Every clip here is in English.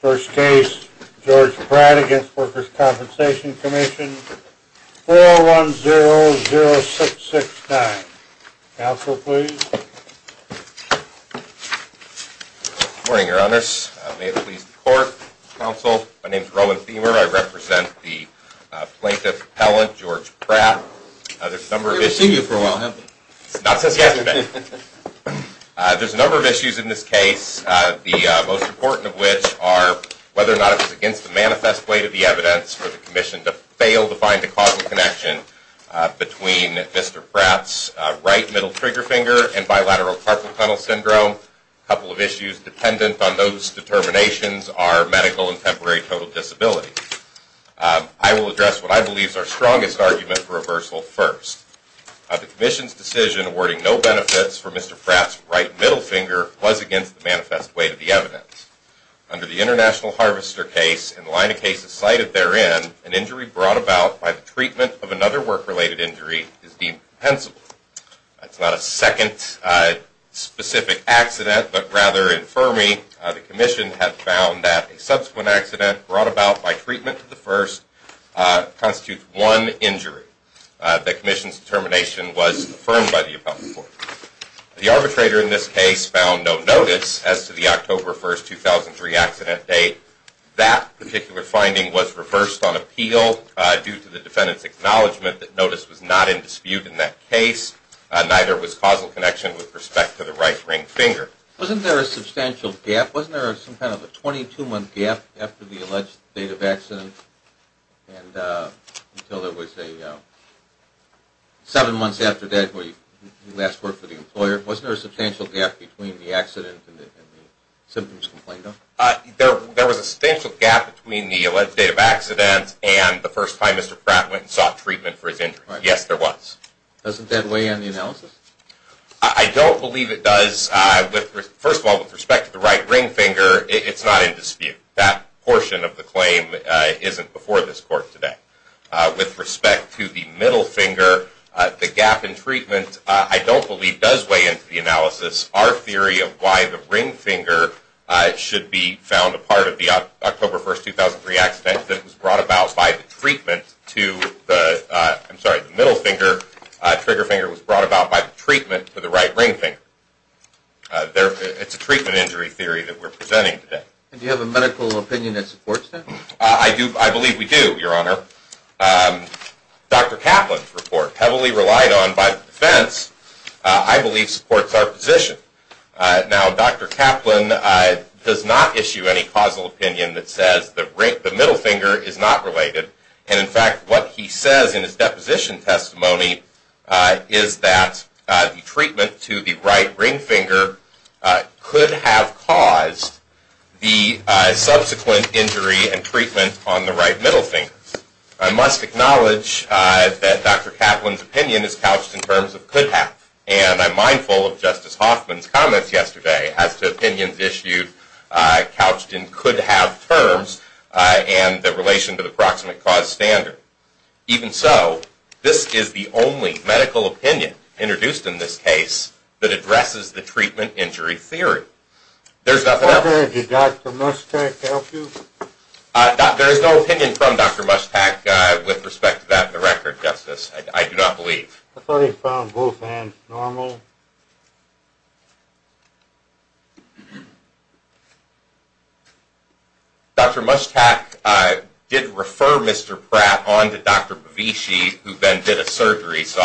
First case, George Pratt v. Workers' Compensation Commission, 4100669. Counsel, please. Good morning, Your Honors. May it please the Court, Counsel, my name is Roman Thiemer. I represent the plaintiff, Appellant George Pratt. We've seen you for a while, haven't we? Not since yesterday. There's a number of issues in this case, the most important of which are whether or not it was against the manifest way to the evidence for the commission to fail to find a causal connection between Mr. Pratt's right middle trigger finger and bilateral carpal tunnel syndrome. A couple of issues dependent on those determinations are medical and temporary total disability. I will address what I believe is our strongest argument for reversal first. The commission's decision awarding no benefits for Mr. Pratt's right middle finger was against the manifest way to the evidence. Under the International Harvester case and the line of cases cited therein, an injury brought about by the treatment of another work-related injury is deemed pensable. That's not a second specific accident, but rather, in Fermi, the commission had found that a subsequent accident brought about by treatment of the first constitutes one injury. The commission's determination was affirmed by the appellant court. The arbitrator in this case found no notice as to the October 1, 2003 accident date. That particular finding was reversed on appeal due to the defendant's acknowledgment that notice was not in dispute in that case. Neither was causal connection with respect to the right ring finger. Wasn't there a substantial gap? Wasn't there some kind of a 22-month gap after the alleged date of accident? And until there was a 7 months after that where you last worked for the employer? Wasn't there a substantial gap between the accident and the symptoms complained of? There was a substantial gap between the alleged date of accident and the first time Mr. Pratt went and sought treatment for his injury. Yes, there was. Doesn't that weigh in the analysis? I don't believe it does. First of all, with respect to the right ring finger, it's not in dispute. That portion of the claim isn't before this court today. With respect to the middle finger, the gap in treatment, I don't believe does weigh into the analysis. Our theory of why the ring finger should be found a part of the October 1, 2003 accident was brought about by the treatment to the middle finger. Trigger finger was brought about by the treatment to the right ring finger. It's a treatment injury theory that we're presenting today. Do you have a medical opinion that supports that? I believe we do, Your Honor. Dr. Kaplan's report, heavily relied on by the defense, I believe supports our position. Now, Dr. Kaplan does not issue any causal opinion that says the middle finger is not related. In fact, what he says in his deposition testimony is that the treatment to the right ring finger could have caused the subsequent injury and treatment on the right middle finger. I must acknowledge that Dr. Kaplan's opinion is couched in terms of could have. And I'm mindful of Justice Hoffman's comments yesterday as to opinions issued couched in could have terms and the relation to the proximate cause standard. Even so, this is the only medical opinion introduced in this case that addresses the treatment injury theory. There's nothing else. Did Dr. Mushtaq help you? There is no opinion from Dr. Mushtaq with respect to that in the record, Justice. I do not believe. I thought he found both hands normal. Dr. Mushtaq did refer Mr. Pratt on to Dr. Bovici, who then did a surgery. So,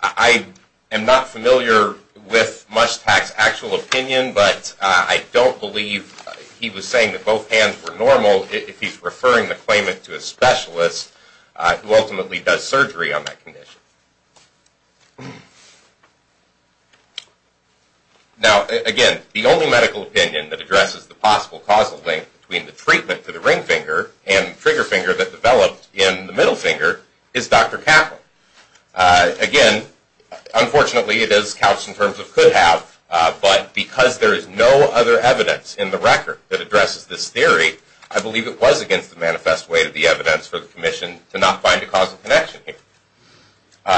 I am not familiar with Mushtaq's actual opinion, but I don't believe he was saying that both hands were normal if he's referring the claimant to a specialist who ultimately does surgery on that condition. Now, again, the only medical opinion that addresses the possible causal link between the treatment to the ring finger and the trigger finger that developed in the middle finger is Dr. Kaplan. Again, unfortunately, it is couched in terms of could have, but because there is no other evidence in the record that addresses this theory, I believe it was against the manifest way to the evidence for the Commission to not find a causal connection here.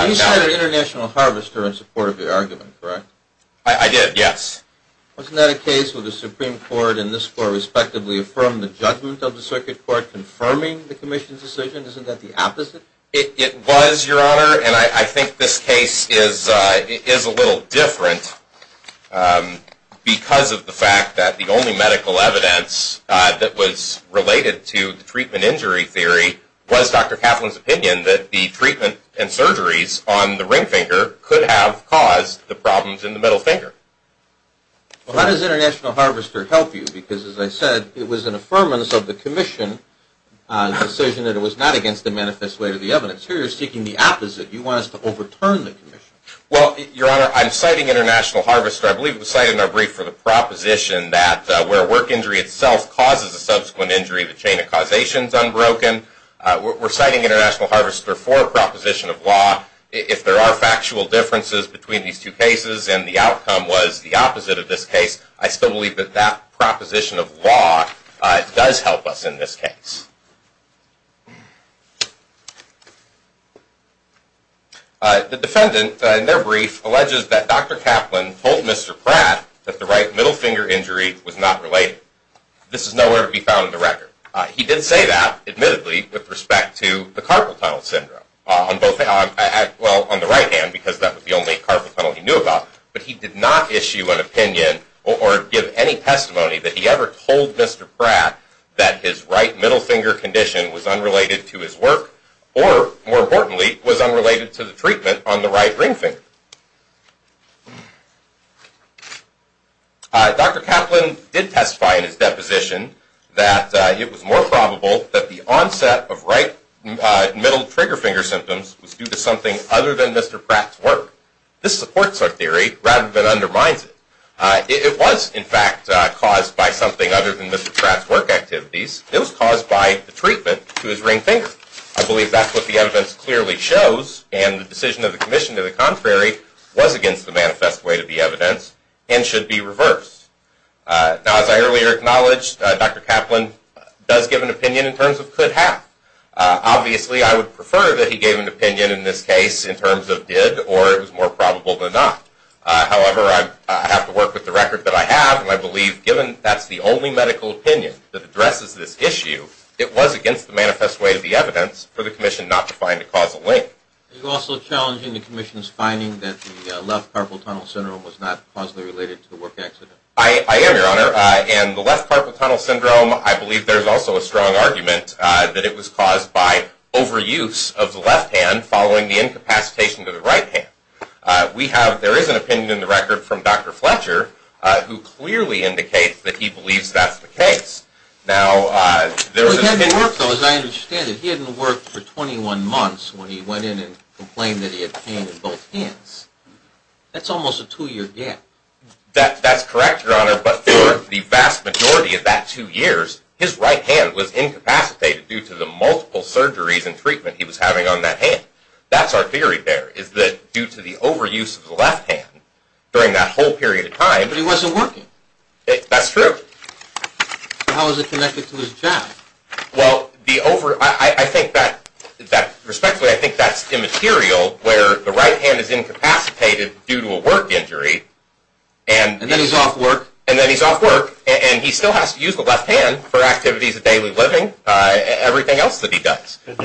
You said an international harvester in support of your argument, correct? I did, yes. Wasn't that a case where the Supreme Court and this Court respectively affirmed the judgment of the Circuit Court confirming the Commission's decision? Isn't that the opposite? It was, Your Honor, and I think this case is a little different because of the fact that the only medical evidence that was related to the treatment injury theory was Dr. Kaplan's opinion that the treatment and surgeries on the ring finger could have caused the problems in the middle finger. Well, how does international harvester help you? Because, as I said, it was an affirmance of the Commission's decision that it was not against the manifest way to the evidence. Here, you're seeking the opposite. You want us to overturn the Commission. Well, Your Honor, I'm citing international harvester. I believe it was cited in our brief for the proposition that where a work injury itself causes a subsequent injury, the chain of causation is unbroken. We're citing international harvester for a proposition of law. If there are factual differences between these two cases and the outcome was the opposite of this case, I still believe that that proposition of law does help us in this case. The defendant, in their brief, alleges that Dr. Kaplan told Mr. Pratt that the right middle finger injury was not related. This is nowhere to be found in the record. He did say that, admittedly, with respect to the carpal tunnel syndrome. Well, on the right hand, because that was the only carpal tunnel he knew about, but he did not issue an opinion or give any testimony that he ever told Mr. Pratt that his right middle finger condition was unrelated to his work or, more importantly, was unrelated to the treatment on the right ring finger. Dr. Kaplan did testify in his deposition that it was more probable that the onset of right middle trigger finger symptoms was due to something other than Mr. Pratt's work. This supports our theory rather than undermines it. It was, in fact, caused by something other than Mr. Pratt's work activities. It was caused by the treatment to his ring finger. I believe that's what the evidence clearly shows, and the decision of the commission to the contrary was against the manifest way to the evidence and should be reversed. Now, as I earlier acknowledged, Dr. Kaplan does give an opinion in terms of could have. Obviously, I would prefer that he gave an opinion in this case in terms of did or it was more probable than not. However, I have to work with the record that I have, and I believe given that's the only medical opinion that addresses this issue, it was against the manifest way to the evidence for the commission not to find a causal link. Are you also challenging the commission's finding that the left carpal tunnel syndrome was not causally related to the work accident? I am, Your Honor, and the left carpal tunnel syndrome, I believe there's also a strong argument that it was caused by overuse of the left hand following the incapacitation to the right hand. We have, there is an opinion in the record from Dr. Fletcher who clearly indicates that he believes that's the case. He hadn't worked, though, as I understand it. He hadn't worked for 21 months when he went in and complained that he had pain in both hands. That's almost a two year gap. That's correct, Your Honor, but for the vast majority of that two years, his right hand was incapacitated due to the multiple surgeries and treatment he was having on that hand. That's our theory there, is that due to the overuse of the left hand during that whole period of time… But he wasn't working. That's true. How is it connected to his job? Well, I think that, respectfully, I think that's immaterial, where the right hand is incapacitated due to a work injury… And then he's off work? And then he's off work, and he still has to use the left hand for activities of daily living and everything else that he does. Did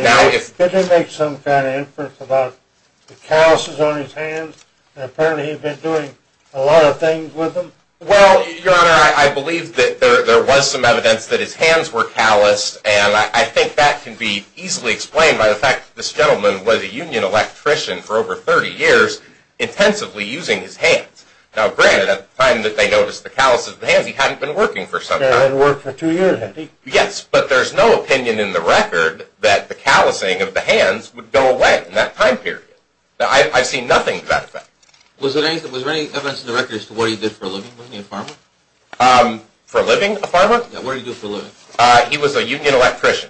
they make some kind of inference about the calluses on his hands, and apparently he's been doing a lot of things with them? Well, Your Honor, I believe that there was some evidence that his hands were calloused, and I think that can be easily explained by the fact that this gentleman was a union electrician for over 30 years, intensively using his hands. Now, granted, at the time that they noticed the calluses of the hands, he hadn't been working for some time. He hadn't worked for two years, had he? Yes, but there's no opinion in the record that the callousing of the hands would go away in that time period. I've seen nothing to that effect. Was there any evidence in the record as to what he did for a living, wasn't he a farmer? For a living, a farmer? Yeah, what did he do for a living? He was a union electrician.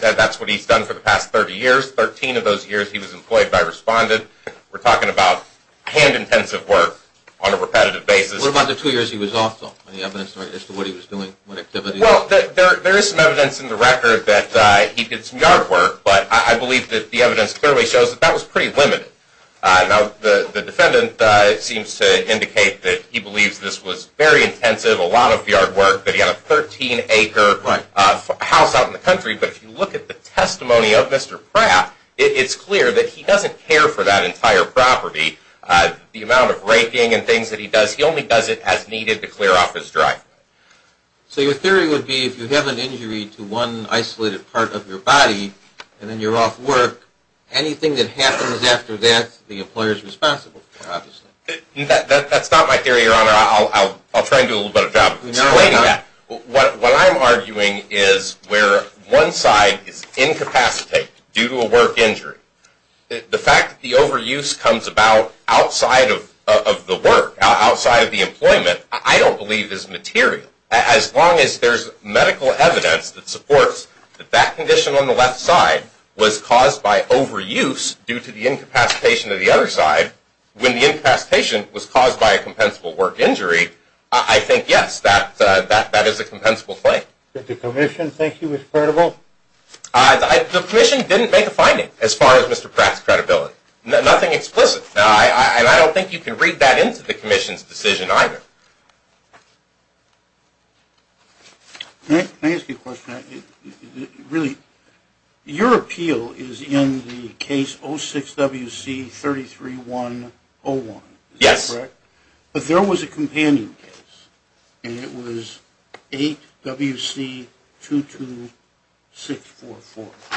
That's what he's done for the past 30 years. 13 of those years he was employed by Respondent. We're talking about hand-intensive work on a repetitive basis. What about the two years he was also? Any evidence as to what he was doing, what activities? Well, there is some evidence in the record that he did some yard work, but I believe that the evidence clearly shows that that was pretty limited. Now, the defendant seems to indicate that he believes this was very intensive, a lot of yard work, that he had a 13-acre house out in the country, but if you look at the testimony of Mr. Pratt, it's clear that he doesn't care for that entire property. The amount of raking and things that he does, he only does it as needed to clear off his drive. So your theory would be if you have an injury to one isolated part of your body and then you're off work, anything that happens after that the employer is responsible for, obviously. That's not my theory, Your Honor. I'll try to do a little bit of job explaining that. What I'm arguing is where one side is incapacitated due to a work injury, the fact that the overuse comes about outside of the work, outside of the employment, I don't believe is material. As long as there's medical evidence that supports that that condition on the left side was caused by overuse due to the incapacitation of the other side, when the incapacitation was caused by a compensable work injury, I think, yes, that is a compensable thing. Did the commission think he was credible? The commission didn't make a finding as far as Mr. Pratt's credibility. Nothing explicit. And I don't think you can read that into the commission's decision either. May I ask you a question? Really, your appeal is in the case 06-WC-33101, is that correct? Yes. But there was a companion case, and it was 08-WC-22644.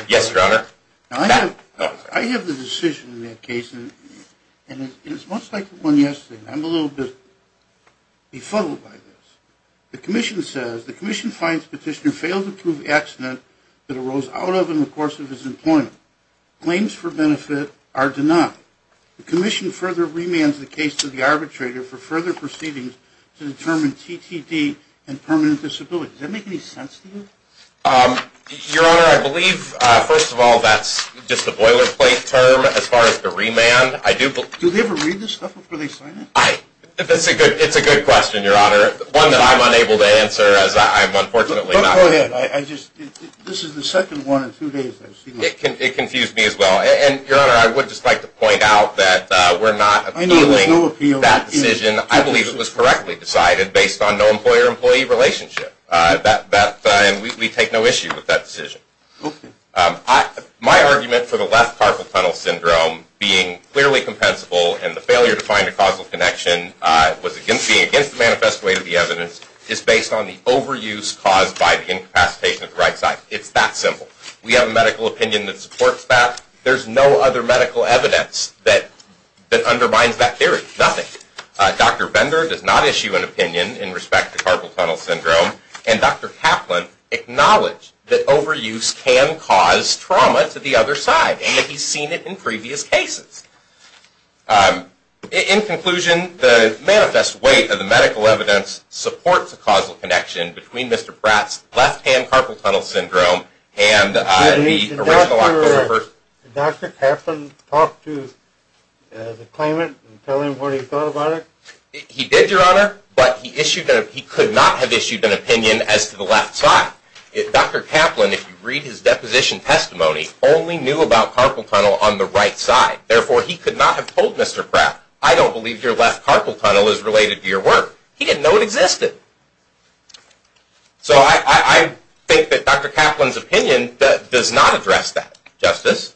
Yes, Your Honor. Now, I have the decision in that case, and it's much like the one yesterday. I'm a little bit befuddled by this. The commission says the commission finds petitioner failed to prove accident that arose out of in the course of his employment. Claims for benefit are denied. The commission further remands the case to the arbitrator for further proceedings to determine TTD and permanent disability. Does that make any sense to you? Your Honor, I believe, first of all, that's just a boilerplate term as far as the remand. Do they ever read this stuff before they sign it? It's a good question, Your Honor, one that I'm unable to answer as I'm unfortunately not. Go ahead. This is the second one in two days I've seen this. It confused me as well. Your Honor, I would just like to point out that we're not appealing that decision. I believe it was correctly decided based on no employer-employee relationship. We take no issue with that decision. My argument for the left carpal tunnel syndrome being clearly compensable and the failure to find a causal connection being against the manifest way to the evidence is based on the overuse caused by the incapacitation of the right side. It's that simple. We have a medical opinion that supports that. There's no other medical evidence that undermines that theory. Nothing. Dr. Bender does not issue an opinion in respect to carpal tunnel syndrome and Dr. Kaplan acknowledged that overuse can cause trauma to the other side and that he's seen it in previous cases. In conclusion, the manifest way of the medical evidence supports a causal connection between Mr. Pratt's left-hand carpal tunnel syndrome and the original October 1st. Did Dr. Kaplan talk to the claimant and tell him what he thought about it? He did, Your Honor, but he could not have issued an opinion as to the left side. Dr. Kaplan, if you read his deposition testimony, only knew about carpal tunnel on the right side. Therefore, he could not have told Mr. Pratt, I don't believe your left carpal tunnel is related to your work. He didn't know it existed. So I think that Dr. Kaplan's opinion does not address that, Justice.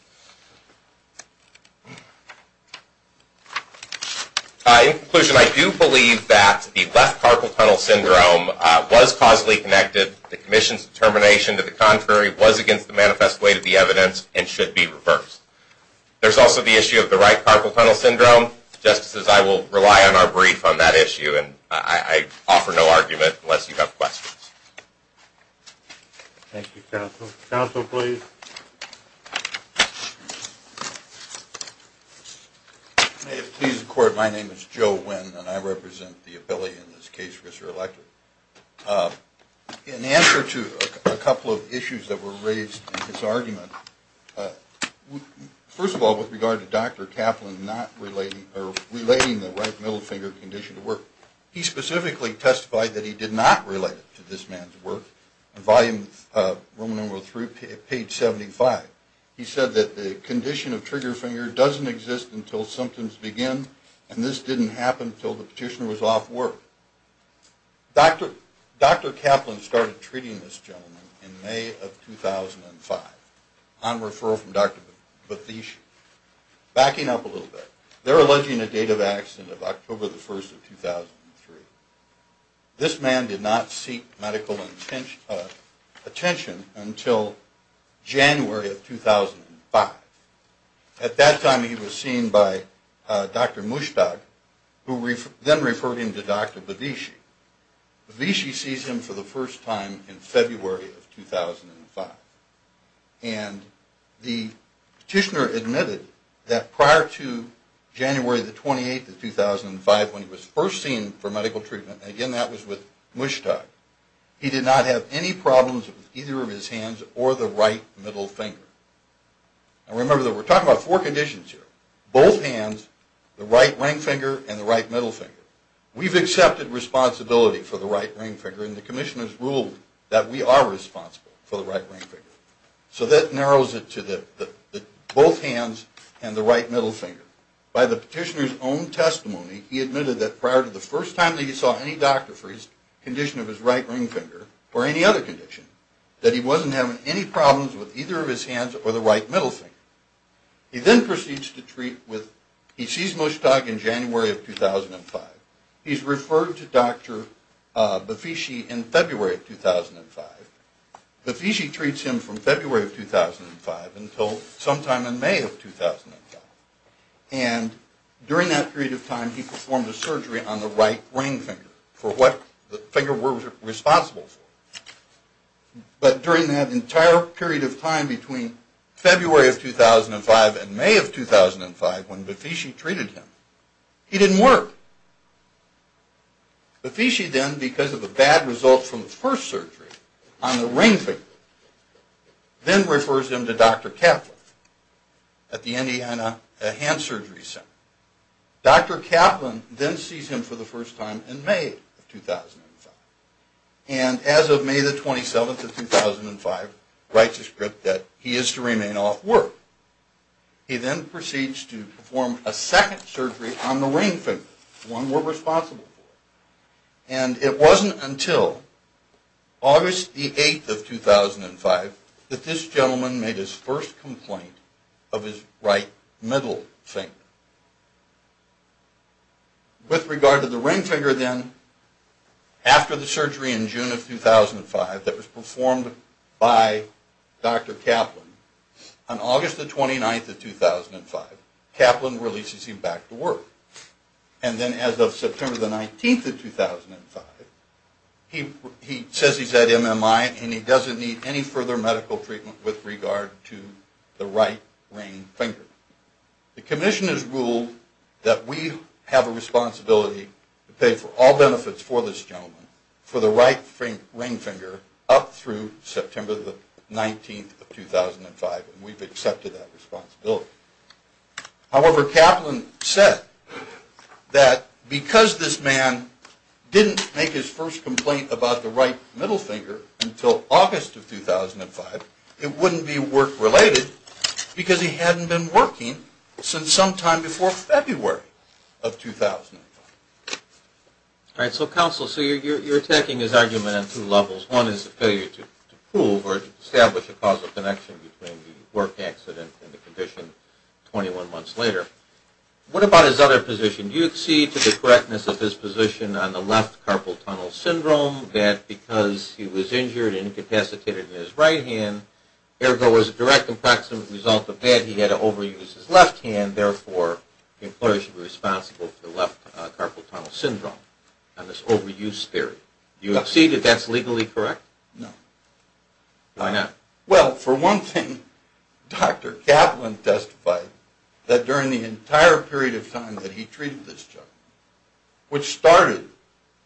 In conclusion, I do believe that the left carpal tunnel syndrome was causally connected. The commission's determination to the contrary was against the manifest way of the evidence and should be reversed. There's also the issue of the right carpal tunnel syndrome. Justices, I will rely on our brief on that issue. I offer no argument unless you have questions. Thank you, counsel. Counsel, please. May it please the Court, my name is Joe Wynn, and I represent the ability in this case, Mr. Elector. First of all, with regard to Dr. Kaplan not relating the right middle finger condition to work, he specifically testified that he did not relate it to this man's work. In Volume 3, page 75, he said that the condition of trigger finger doesn't exist until symptoms begin, and this didn't happen until the petitioner was off work. Dr. Kaplan started treating this gentleman in May of 2005 on referral from Dr. Bathishi. Backing up a little bit, they're alleging a date of accident of October 1, 2003. This man did not seek medical attention until January of 2005. At that time, he was seen by Dr. Mushtaq, who then referred him to Dr. Bathishi. Bathishi sees him for the first time in February of 2005, and the petitioner admitted that prior to January 28, 2005, when he was first seen for medical treatment, and again that was with Mushtaq, he did not have any problems with either of his hands or the right middle finger. Now remember that we're talking about four conditions here, both hands, the right ring finger, and the right middle finger. We've accepted responsibility for the right ring finger, and the commission has ruled that we are responsible for the right ring finger. So that narrows it to both hands and the right middle finger. By the petitioner's own testimony, he admitted that prior to the first time that he saw any doctor for his condition of his right ring finger or any other condition, that he wasn't having any problems with either of his hands or the right middle finger. He then proceeds to treat with, he sees Mushtaq in January of 2005. He's referred to Dr. Bathishi in February of 2005. Bathishi treats him from February of 2005 until sometime in May of 2005. And during that period of time, he performed a surgery on the right ring finger for what the finger we're responsible for. But during that entire period of time between February of 2005 and May of 2005, when Bathishi treated him, he didn't work. Bathishi then, because of the bad results from the first surgery on the ring finger, then refers him to Dr. Kaplan at the Indiana Hand Surgery Center. Dr. Kaplan then sees him for the first time in May of 2005. And as of May the 27th of 2005, writes a script that he is to remain off work. He then proceeds to perform a second surgery on the ring finger, the one we're responsible for. And it wasn't until August the 8th of 2005 that this gentleman made his first complaint of his right middle finger. With regard to the ring finger then, after the surgery in June of 2005 that was performed by Dr. Kaplan, on August the 29th of 2005, Kaplan releases him back to work. And then as of September the 19th of 2005, he says he's at MMI and he doesn't need any further medical treatment with regard to the right ring finger. The commission has ruled that we have a responsibility to pay for all benefits for this gentleman, for the right ring finger, up through September the 19th of 2005. And we've accepted that responsibility. However, Kaplan said that because this man didn't make his first complaint about the right middle finger until August of 2005, it wouldn't be work-related because he hadn't been working since sometime before February of 2005. All right, so counsel, so you're attacking his argument on two levels. One is the failure to prove or to establish a causal connection between the work accident and the condition 21 months later. What about his other position? Do you accede to the correctness of his position on the left carpal tunnel syndrome, that because he was injured and incapacitated in his right hand, ergo as a direct and proximate result of that, he had to overuse his left hand, therefore the employer should be responsible for the left carpal tunnel syndrome and this overuse theory. Do you accede if that's legally correct? No. Why not? Well, for one thing, Dr. Kaplan testified that during the entire period of time that he treated this gentleman, which started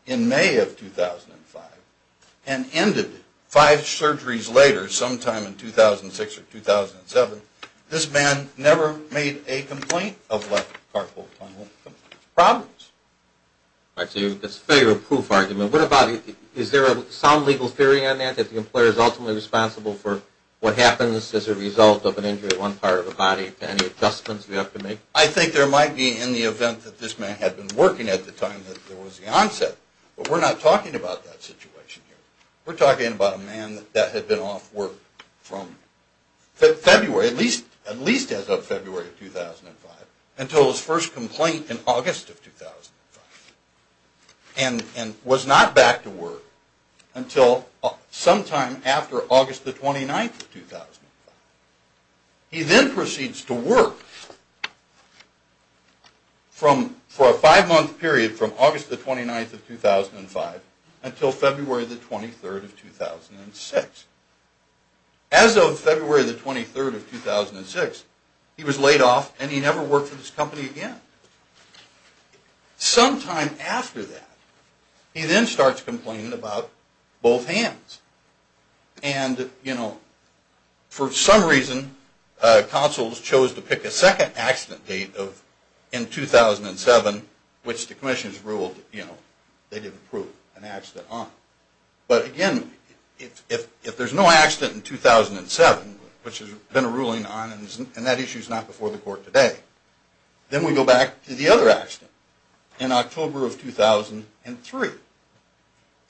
in May of 2005 and ended five surgeries later, sometime in 2006 or 2007, this man never made a complaint of left carpal tunnel problems. All right, so that's a failure of proof argument. What about, is there a sound legal theory on that, that the employer is ultimately responsible for what happens as a result of an injury to one part of the body, any adjustments you have to make? I think there might be in the event that this man had been working at the time that there was the onset, but we're not talking about that situation here. We're talking about a man that had been off work from February, at least as of February of 2005, until his first complaint in August of 2005 and was not back to work until sometime after August the 29th of 2005. He then proceeds to work for a five-month period from August the 29th of 2005 until February the 23rd of 2006. As of February the 23rd of 2006, he was laid off and he never worked for this company again. Sometime after that, he then starts complaining about both hands. And, you know, for some reason, counsels chose to pick a second accident date in 2007, which the commissioners ruled, you know, they didn't approve an accident on. But again, if there's no accident in 2007, which there's been a ruling on and that issue is not before the court today, then we go back to the other accident in October of 2003.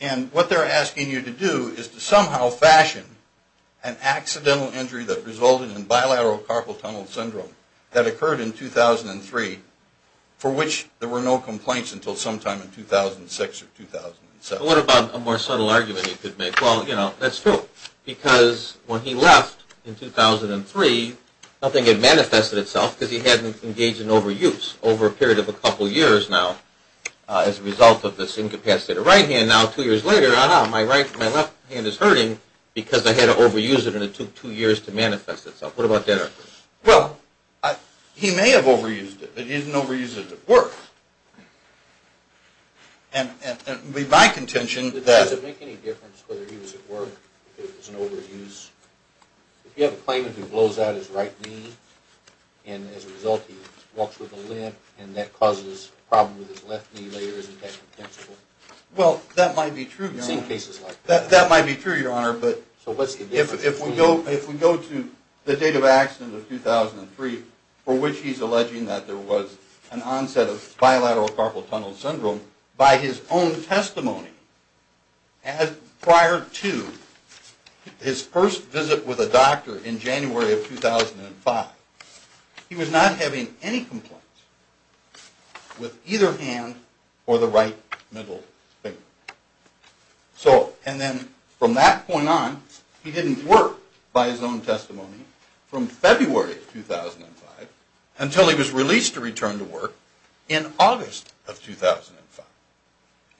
And what they're asking you to do is to somehow fashion an accidental injury that resulted in bilateral carpal tunnel syndrome that occurred in 2003 for which there were no complaints until sometime in 2006 or 2007. What about a more subtle argument you could make? Well, you know, that's true because when he left in 2003, nothing had manifested itself because he hadn't engaged in overuse over a period of a couple of years now as a result of this incapacity of the right hand. Now, two years later, my left hand is hurting because I had to overuse it and it took two years to manifest itself. What about that argument? Well, he may have overused it, but he didn't overuse it at work. And my contention is that... Does it make any difference whether he was at work or if it was an overuse? If you have a claimant who blows out his right knee and as a result he walks with a limp and that causes a problem with his left knee later, isn't that contensible? Well, that might be true, Your Honor. I've seen cases like that. That might be true, Your Honor, but... So what's the difference? If we go to the date of accident of 2003 for which he's alleging that there was an onset of bilateral carpal tunnel syndrome, by his own testimony prior to his first visit with a doctor in January of 2005, he was not having any complaints with either hand or the right middle finger. So, and then from that point on, he didn't work by his own testimony from February of 2005 until he was released to return to work in August of 2005.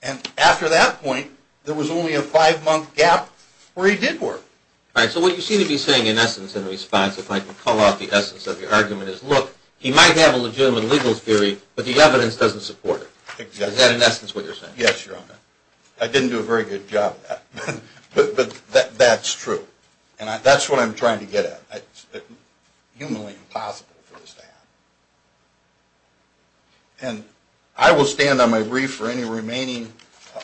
And after that point, there was only a five-month gap where he did work. All right, so what you seem to be saying in essence in response, if I can call out the essence of your argument, is, look, he might have a legitimate legal theory, but the evidence doesn't support it. Exactly. Is that in essence what you're saying? Yes, Your Honor. I didn't do a very good job of that, but that's true. And that's what I'm trying to get at. It's humanly impossible for this to happen. And I will stand on my brief for any remaining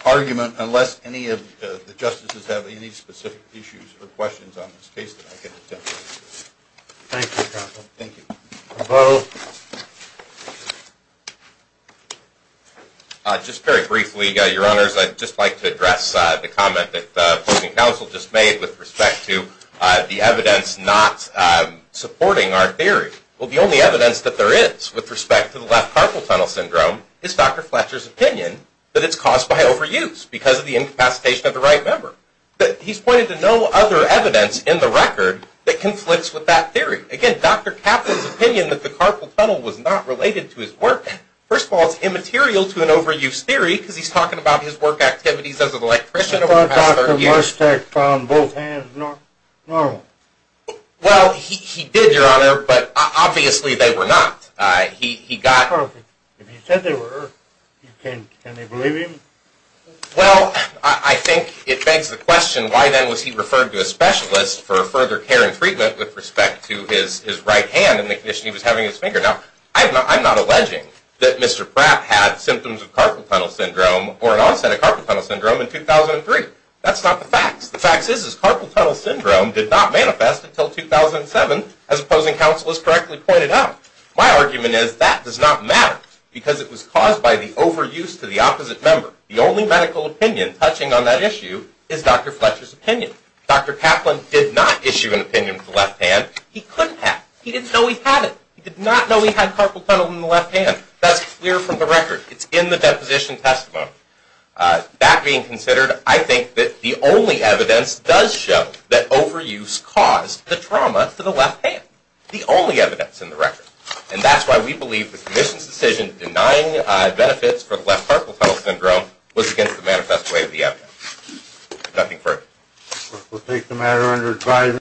argument unless any of the justices have any specific issues or questions on this case that I can attempt to answer. Thank you, counsel. Thank you. Hello. Just very briefly, Your Honors, I'd just like to address the comment that the opposing counsel just made with respect to the evidence not supporting our theory. Well, the only evidence that there is with respect to the left carpal tunnel syndrome is Dr. Fletcher's opinion that it's caused by overuse because of the incapacitation of the right member. He's pointed to no other evidence in the record that conflicts with that theory. Again, Dr. Kaplan's opinion that the carpal tunnel was not related to his work. First of all, it's immaterial to an overuse theory because he's talking about his work activities as an electrician over the past 30 years. But Dr. Mersteck found both hands normal. Well, he did, Your Honor, but obviously they were not. He got... Perfect. If he said they were, can they believe him? Well, I think it begs the question, why then was he referred to a specialist for further care and treatment with respect to his right hand and the condition he was having in his finger? Now, I'm not alleging that Mr. Pratt had symptoms of carpal tunnel syndrome or an onset of carpal tunnel syndrome in 2003. That's not the facts. The facts is his carpal tunnel syndrome did not manifest until 2007, as opposing counsel has correctly pointed out. My argument is that does not matter because it was caused by the overuse to the opposite member. The only medical opinion touching on that issue is Dr. Fletcher's opinion. Dr. Kaplan did not issue an opinion with the left hand. He couldn't have. He didn't know he had it. He did not know he had carpal tunnel in the left hand. That's clear from the record. It's in the deposition testimony. That being considered, I think that the only evidence does show that overuse caused the trauma to the left hand. The only evidence in the record. And that's why we believe the commission's decision denying benefits for the left carpal tunnel syndrome was against the manifest way of the evidence. Nothing further. We'll take the matter under advisory.